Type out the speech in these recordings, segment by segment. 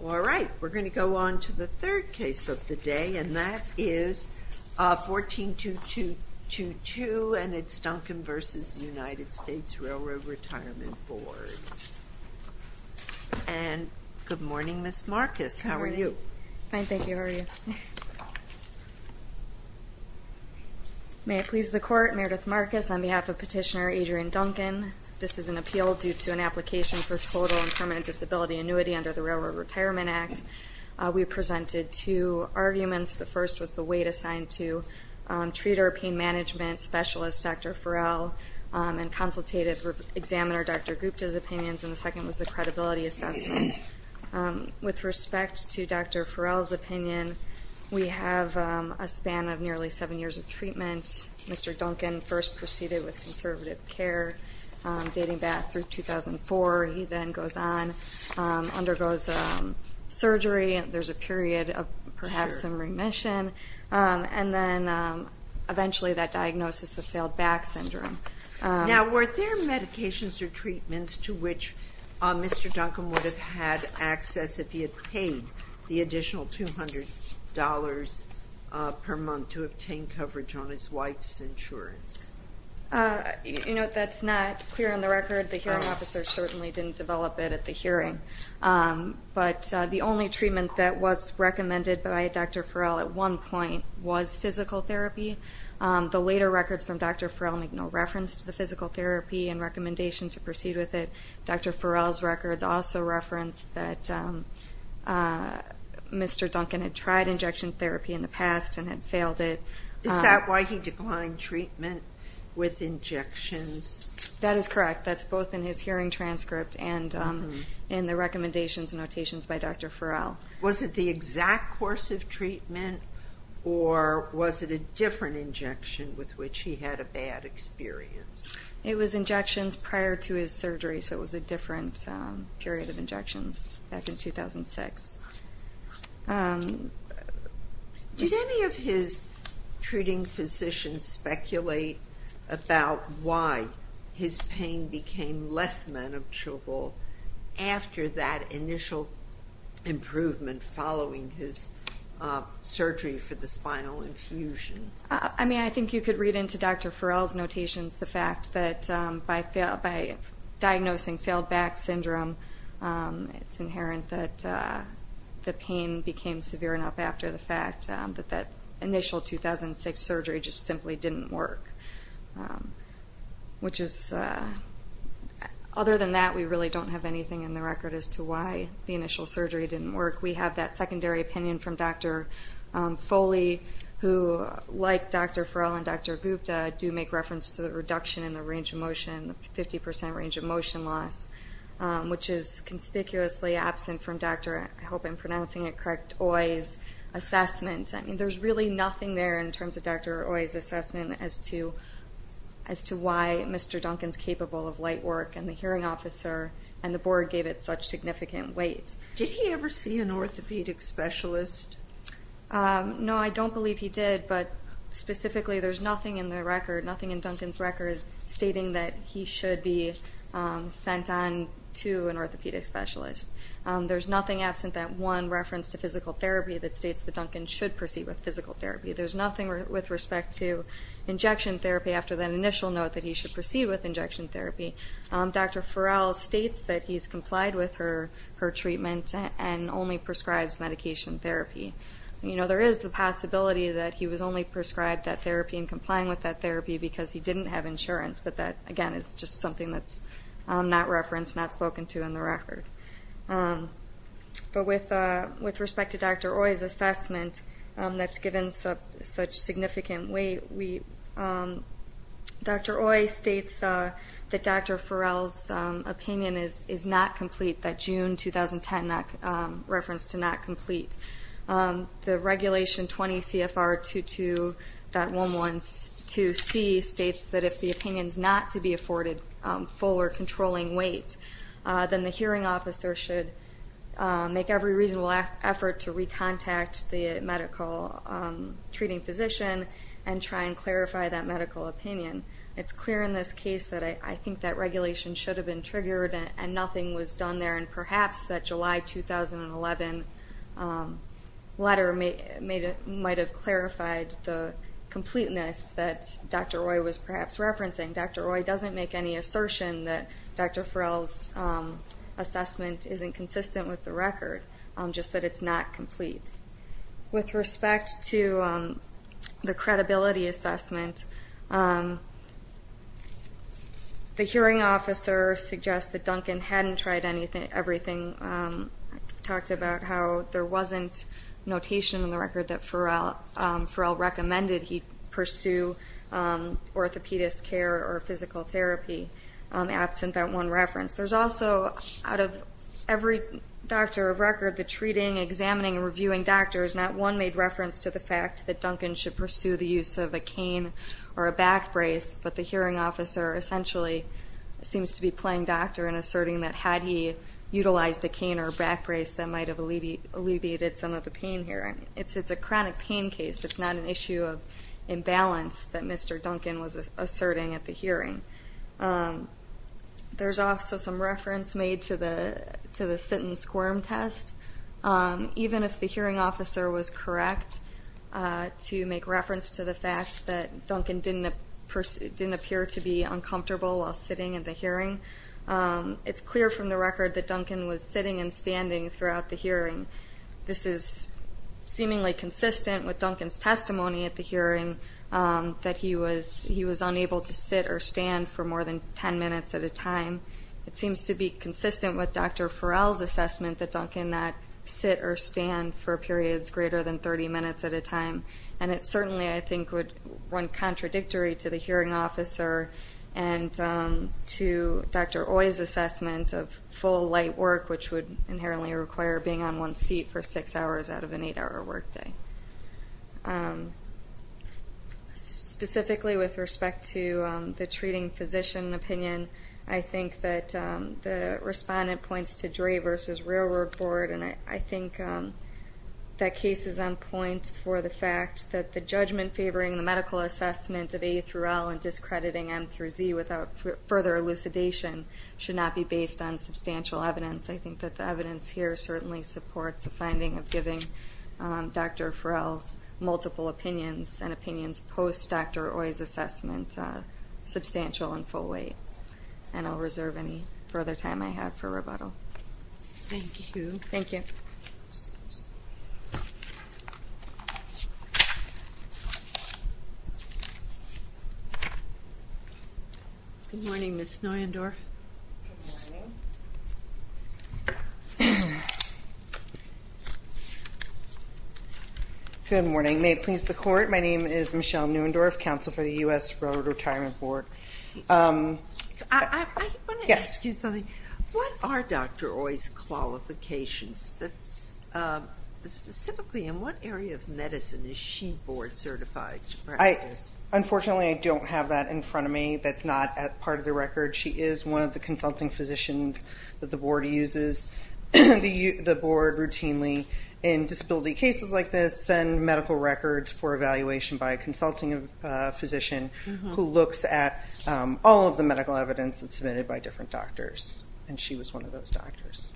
All right, we're going to go on to the third case of the day, and that is 142222, and it's Duncan v. United States Railroad Retirement Board. And good morning, Ms. Marcus. How are you? Good morning. Fine, thank you. How are you? May it please the Court, Meredith Marcus on behalf of Petitioner Adrienne Duncan. This is an appeal due to an application for total and permanent disability annuity under the Railroad Retirement Act. We presented two arguments. The first was the weight assigned to treater, pain management specialist, Dr. Farrell, and consultative examiner, Dr. Gupta's opinions, and the second was the credibility assessment. With respect to Dr. Farrell's opinion, we have a span of nearly seven years of treatment. Mr. Duncan first proceeded with conservative care, dating back through 2004. He then goes on, undergoes surgery, there's a period of perhaps some remission, and then eventually that diagnosis is failed back syndrome. Now were there medications or treatments to which Mr. Duncan would have had access if he had paid the additional $200 per month to obtain coverage on his wife's insurance? You know, that's not clear on the record. The hearing officer certainly didn't develop it at the hearing. But the only treatment that was recommended by Dr. Farrell at one point was physical therapy. The later records from Dr. Farrell make no reference to the physical therapy and recommendation to proceed with it. Dr. Farrell's records also reference that Mr. Duncan had tried injection therapy in the past and had failed it. Is that why he declined treatment with injections? That is correct. That's both in his hearing transcript and in the recommendations and notations by Dr. Farrell. Was it the exact course of treatment or was it a different injection with which he had a bad experience? It was injections prior to his surgery, so it was a different period of injections back in 2006. Did any of his treating physicians speculate about why his pain became less manageable after that initial improvement following his surgery for the spinal infusion? I think you could read into Dr. Farrell's notations the fact that by diagnosing failed back syndrome, it's inherent that the pain became severe enough after the fact that that initial 2006 surgery just simply didn't work. Other than that, we really don't have anything in the record as to why the initial surgery didn't work. We have that secondary opinion from Dr. Foley who, like Dr. Farrell and Dr. Gupta, do make reference to the reduction in the range of motion, the 50% range of motion loss, which is conspicuously absent from Dr. Oye's assessment. There's really nothing there in terms of Dr. Oye's assessment as to why Mr. Duncan's capable of light work and the hearing officer and the board gave it such significant weight. Did he ever see an orthopedic specialist? No, I don't believe he did, but specifically there's nothing in Duncan's record stating that he should be sent on to an orthopedic specialist. There's nothing absent that one reference to physical therapy that states that Duncan should proceed with physical therapy. There's nothing with respect to injection therapy after that initial note that he should proceed with injection therapy. Dr. Farrell states that he's complied with her treatment and only prescribes medication therapy. There is the possibility that he was only prescribed that therapy and complying with that therapy because he didn't have insurance, but that, again, is just something that's not referenced, not spoken to in the record. But with respect to Dr. Oye's assessment that's given such significant weight, Dr. Oye states that Dr. Farrell's opinion is not complete, that June 2010 reference to not complete. The Regulation 20 CFR 22.112C states that if the opinion's not to be afforded full or controlling weight, then the hearing officer should make every reasonable effort to recontact the medical treating physician and try and clarify that medical opinion. It's clear in this case that I think that regulation should have been triggered and nothing was done there, and perhaps that July 2011 letter might have clarified the completeness that Dr. Oye was perhaps referencing. Dr. Oye doesn't make any assertion that Dr. Farrell's assessment isn't consistent with the record, just that it's not complete. With respect to the credibility assessment, the hearing officer suggests that Duncan hadn't tried everything, talked about how there wasn't notation in the record that Farrell recommended he pursue orthopedic care or physical therapy absent that one reference. There's also, out of every doctor of record, the treating, examining, and reviewing doctor is not one made reference to the fact that Duncan should pursue the use of a cane or a back brace, but the hearing officer essentially seems to be playing doctor and asserting that had he utilized a cane or a back brace, that might have alleviated some of the pain here. It's a chronic pain case, it's not an issue of imbalance that Mr. Duncan was asserting at the hearing. There's also some reference made to the sit and squirm test. Even if the hearing officer was correct to make reference to the fact that Duncan didn't appear to be uncomfortable while sitting at the hearing, it's clear from the record that Duncan was sitting and standing throughout the hearing. This is seemingly consistent with Duncan's testimony at the hearing that he was unable to sit or stand for more than 10 minutes at a time. It seems to be consistent with Dr. Farrell's assessment that Duncan not sit or stand for periods greater than 30 minutes at a time, and it certainly, I think, would run contradictory to the hearing officer and to Dr. Oye's assessment of full light work, which would inherently require being on one's feet for six hours out of an eight-hour work day. Specifically, with respect to the treating physician opinion, I think that the respondent points to Dray versus Railroad Board, and I think that case is on point for the fact that the judgment favoring the medical assessment of A through L and discrediting M through Z without further elucidation should not be based on substantial evidence. I think that the evidence here certainly supports the finding of giving Dr. Farrell's multiple opinions and opinions post-Dr. Oye's assessment substantial and full weight, and I'll reserve any further time I have for rebuttal. Thank you. Thank you. Good morning, Ms. Neuendorf. Good morning. Good morning. May it please the Court, my name is Michelle Neuendorf, Counsel for the U.S. Railroad Retirement Board. I want to ask you something. What are Dr. Oye's qualifications? Specifically, in what area of medicine is she board certified? Unfortunately, I don't have that in front of me. That's not part of the record. She is one of the consulting physicians that the board uses, the board routinely in disability cases like this send medical records for evaluation by a consulting physician who looks at all of the medical evidence that's submitted by different doctors, and she was one of those doctors.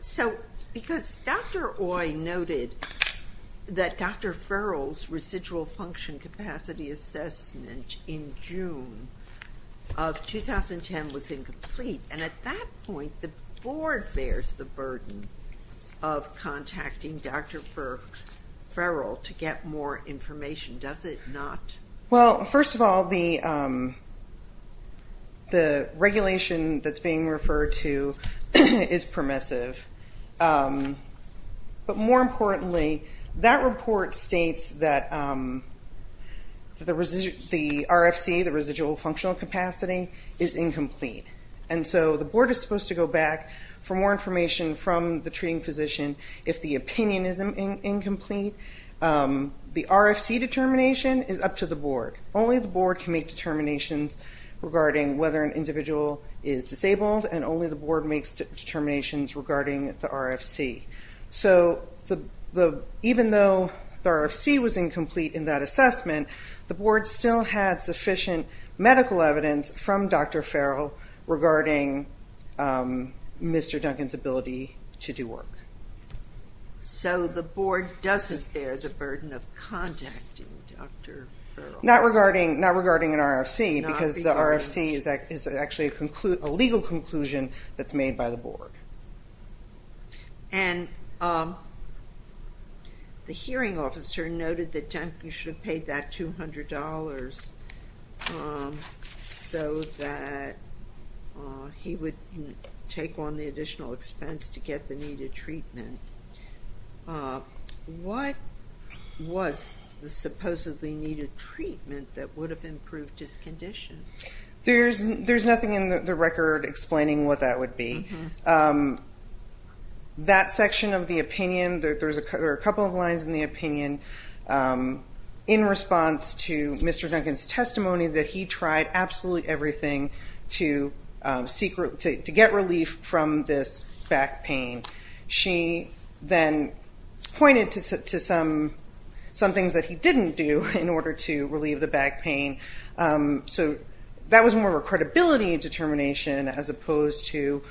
So, because Dr. Oye noted that Dr. Farrell's residual function capacity assessment in June of 2010 was incomplete, and at that point the board bears the burden of contacting Dr. Farrell to get more information, does it not? Well, first of all, the regulation that's being referred to is permissive, but more And so the board is supposed to go back for more information from the treating physician if the opinion is incomplete. The RFC determination is up to the board. Only the board can make determinations regarding whether an individual is disabled, and only the board makes determinations regarding the RFC. So, even though the RFC was incomplete in that assessment, the board still had sufficient medical evidence from Dr. Farrell regarding Mr. Duncan's ability to do work. So, the board doesn't bear the burden of contacting Dr. Farrell. Not regarding an RFC, because the RFC is actually a legal conclusion that's made by the board. And the hearing officer noted that Duncan should have paid that $200 so that he would take on the additional expense to get the needed treatment. What was the supposedly needed treatment that would have improved his condition? There's nothing in the record explaining what that would be. That section of the opinion, there are a couple of lines in the opinion in response to Mr. Duncan's testimony that he tried absolutely everything to get relief from this back pain. She then pointed to some things that he didn't do in order to relieve the back pain. So, that was more of a credibility determination as opposed to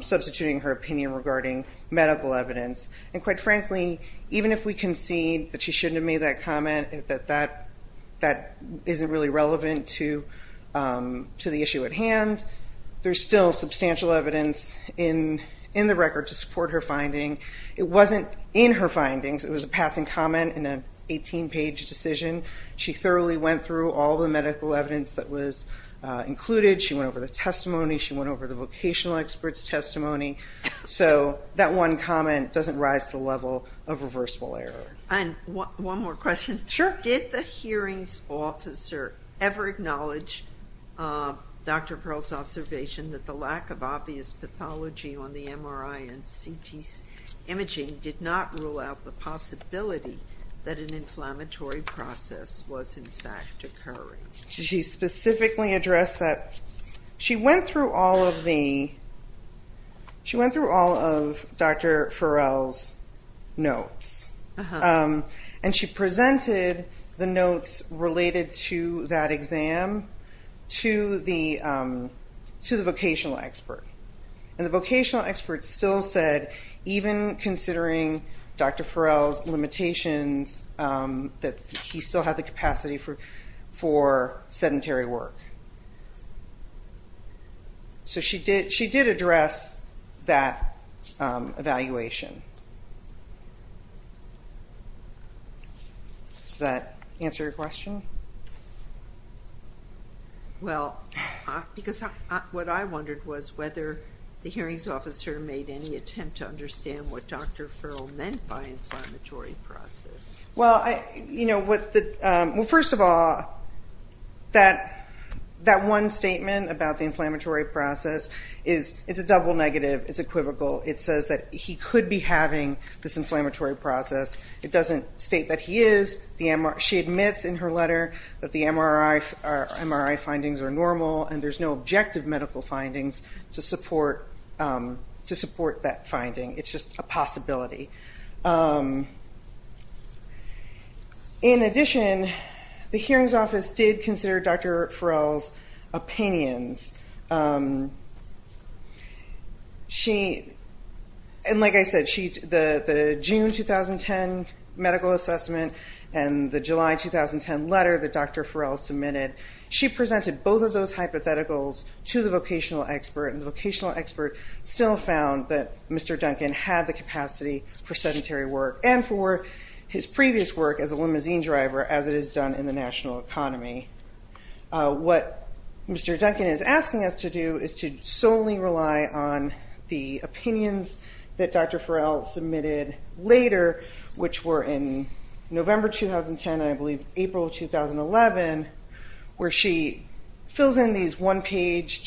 substituting her opinion regarding medical evidence. And quite frankly, even if we concede that she shouldn't have made that comment, that isn't really relevant to the issue at hand, there's still substantial evidence in the record to support her finding. It wasn't in her findings. It was a passing comment in an 18-page decision. She thoroughly went through all the medical evidence that was included. She went over the testimony. She went over the vocational experts' testimony. So, that one comment doesn't rise to the level of reversible error. And one more question. Sure. Did the hearings officer ever acknowledge Dr. Pearl's observation that the lack of obvious pathology on the MRI and CT imaging did not rule out the possibility that an atherosclerosis was, in fact, occurring? She specifically addressed that. She went through all of Dr. Farrell's notes. And she presented the notes related to that exam to the vocational expert. And the vocational expert still said, even considering Dr. Farrell's limitations, that he still had the capacity for sedentary work. So, she did address that evaluation. Does that answer your question? Well, because what I wondered was whether the hearings officer made any attempt to understand what Dr. Farrell meant by inflammatory process. Well, first of all, that one statement about the inflammatory process is a double negative. It's equivocal. It says that he could be having this inflammatory process. It doesn't state that he is. She admits in her letter that the MRI findings are normal and there's no objective medical findings to support that finding. It's just a possibility. In addition, the hearings office did consider Dr. Farrell's opinions. And like I said, the June 2010 medical assessment and the July 2010 letter that Dr. Farrell submitted, she presented both of those hypotheticals to the vocational expert. And the vocational expert still found that Mr. Duncan had the capacity for sedentary work and for his previous work as a limousine driver, as it is done in the national economy. What Mr. Duncan is asking us to do is to solely rely on the opinions that Dr. Farrell submitted later, which were in November 2010 and, I believe, April 2011, where she fills in these one-page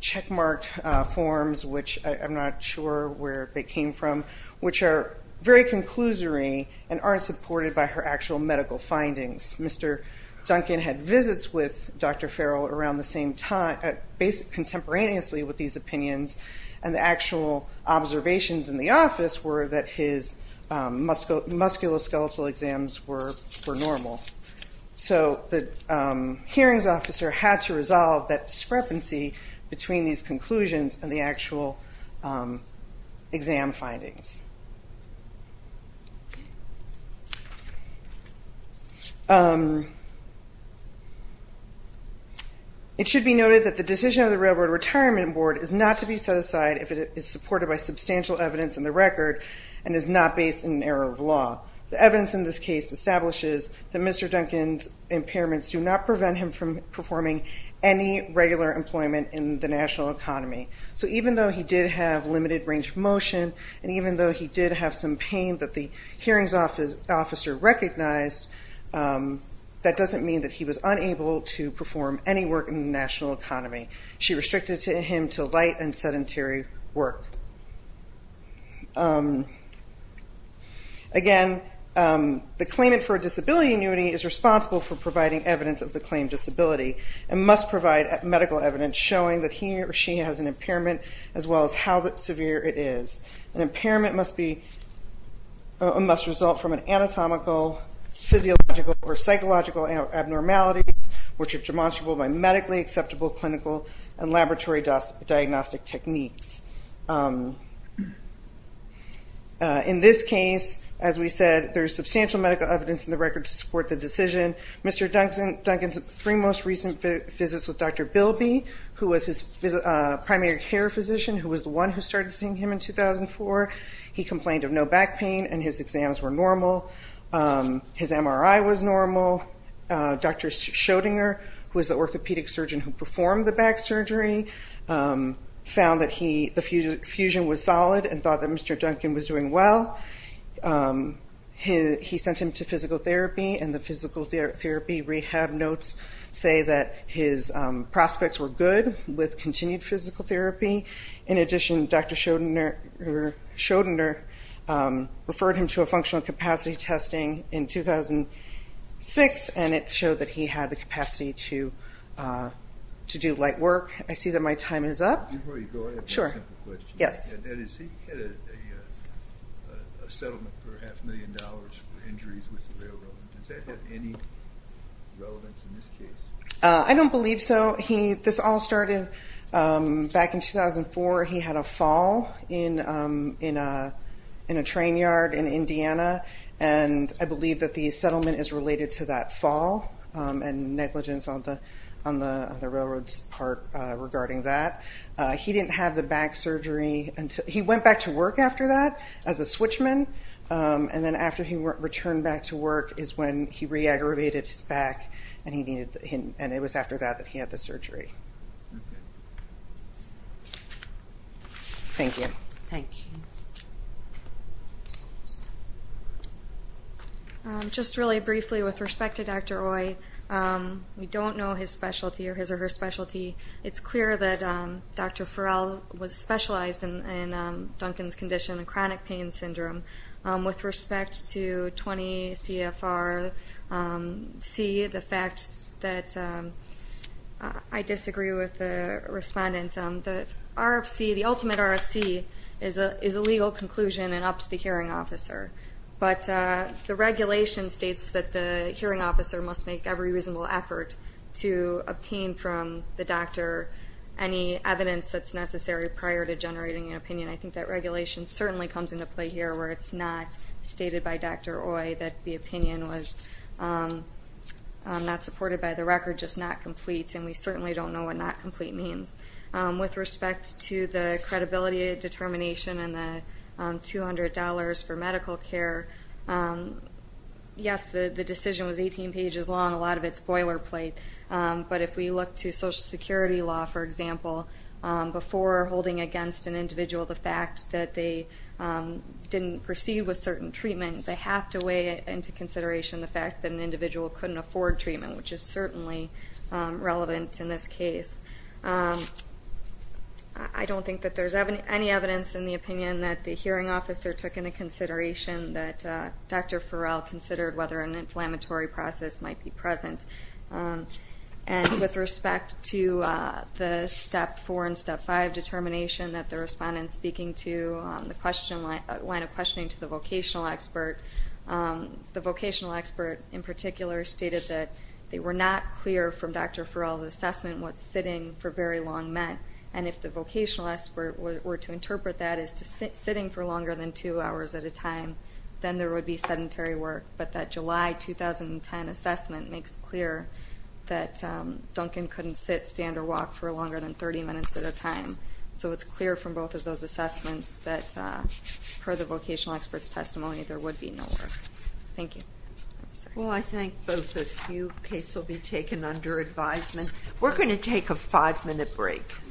checkmarked forms, which I'm not sure where they came from, which are very conclusory and aren't supported by her actual medical findings. Mr. Duncan had visits with Dr. Farrell around the same time, contemporaneously with these opinions, and the actual observations in the office were that his musculoskeletal exams were normal. So the hearings officer had to resolve that discrepancy between these conclusions and the actual exam findings. It should be noted that the decision of the Railroad Retirement Board is not to be set aside if it is supported by substantial evidence in the record and is not based in an error of law. The evidence in this case establishes that Mr. Duncan's impairments do not prevent him from performing any regular employment in the national economy. So even though he did have limited range of motion, and even though he did have some pain that the hearings officer recognized, that doesn't mean that he was unable to perform any work in the national economy. She restricted him to light and sedentary work. Again, the claimant for a disability annuity is responsible for providing evidence of the claimed disability, and must provide medical evidence showing that he or she has an impairment, as well as how severe it is. An impairment must result from an anatomical, physiological, or psychological abnormality, which are demonstrable by medically acceptable clinical and laboratory diagnostic techniques. In this case, as we said, there is substantial medical evidence in the record to support the decision. Mr. Duncan's three most recent visits with Dr. Bilby, who was his primary care physician, who was the one who started seeing him in 2004. He complained of no back pain, and his exams were normal. His MRI was normal. Dr. Schoedinger, who was the orthopedic surgeon who performed the back surgery, found that the fusion was solid and thought that Mr. Duncan was doing well. He sent him to physical therapy, and the physical therapy rehab notes say that his prospects were good with continued physical therapy. In addition, Dr. Schoedinger referred him to a functional capacity testing in 2006, and it showed that he had the capacity to do light work. I see that my time is up. Sure. Yes. I don't believe so. This all started back in 2004. He had a fall in a train yard in Indiana, and I believe that the settlement is related to that fall and negligence on the railroad part regarding that. He went back to work after that as a switchman, and then after he returned back to work is when he re-aggravated his back, and it was after that that he had the surgery. Thank you. Thank you. Just really briefly with respect to Dr. Oye, we don't know his specialty or his or her specialty. It's clear that Dr. Farrell was specialized in Duncan's condition, chronic pain syndrome. With respect to 20CFR-C, the fact that I disagree with the respondent, the ultimate RFC is a legal conclusion and up to the hearing officer, but the regulation states that the hearing officer must make every reasonable effort to obtain from the doctor any evidence that's necessary prior to generating an opinion. I think that regulation certainly comes into play here where it's not stated by Dr. Oye that the opinion was not supported by the record, just not complete, and we certainly don't know what not complete means. With respect to the credibility determination and the $200 for medical care, yes, the decision was 18 pages long. A lot of it's boilerplate. But if we look to Social Security law, for example, before holding against an individual the fact that they didn't proceed with certain treatment, they have to weigh into consideration the fact that an individual couldn't afford treatment, which is certainly relevant in this case. I don't think that there's any evidence in the opinion that the hearing officer took into consideration that Dr. Farrell considered whether an inflammatory process might be present. And with respect to the Step 4 and Step 5 determination that the respondent is speaking to, the line of questioning to the vocational expert, the vocational expert in particular stated that they were not clear from Dr. Farrell's assessment what sitting for very long meant, and if the vocational expert were to interpret that as sitting for longer than two hours at a time, then there would be sedentary work. But that July 2010 assessment makes clear that Duncan couldn't sit, stand, or walk for longer than 30 minutes at a time. So it's clear from both of those assessments that, per the vocational expert's testimony, there would be no work. Thank you. Well, I think both of you, the case will be taken under advisement. We're going to take a five-minute break.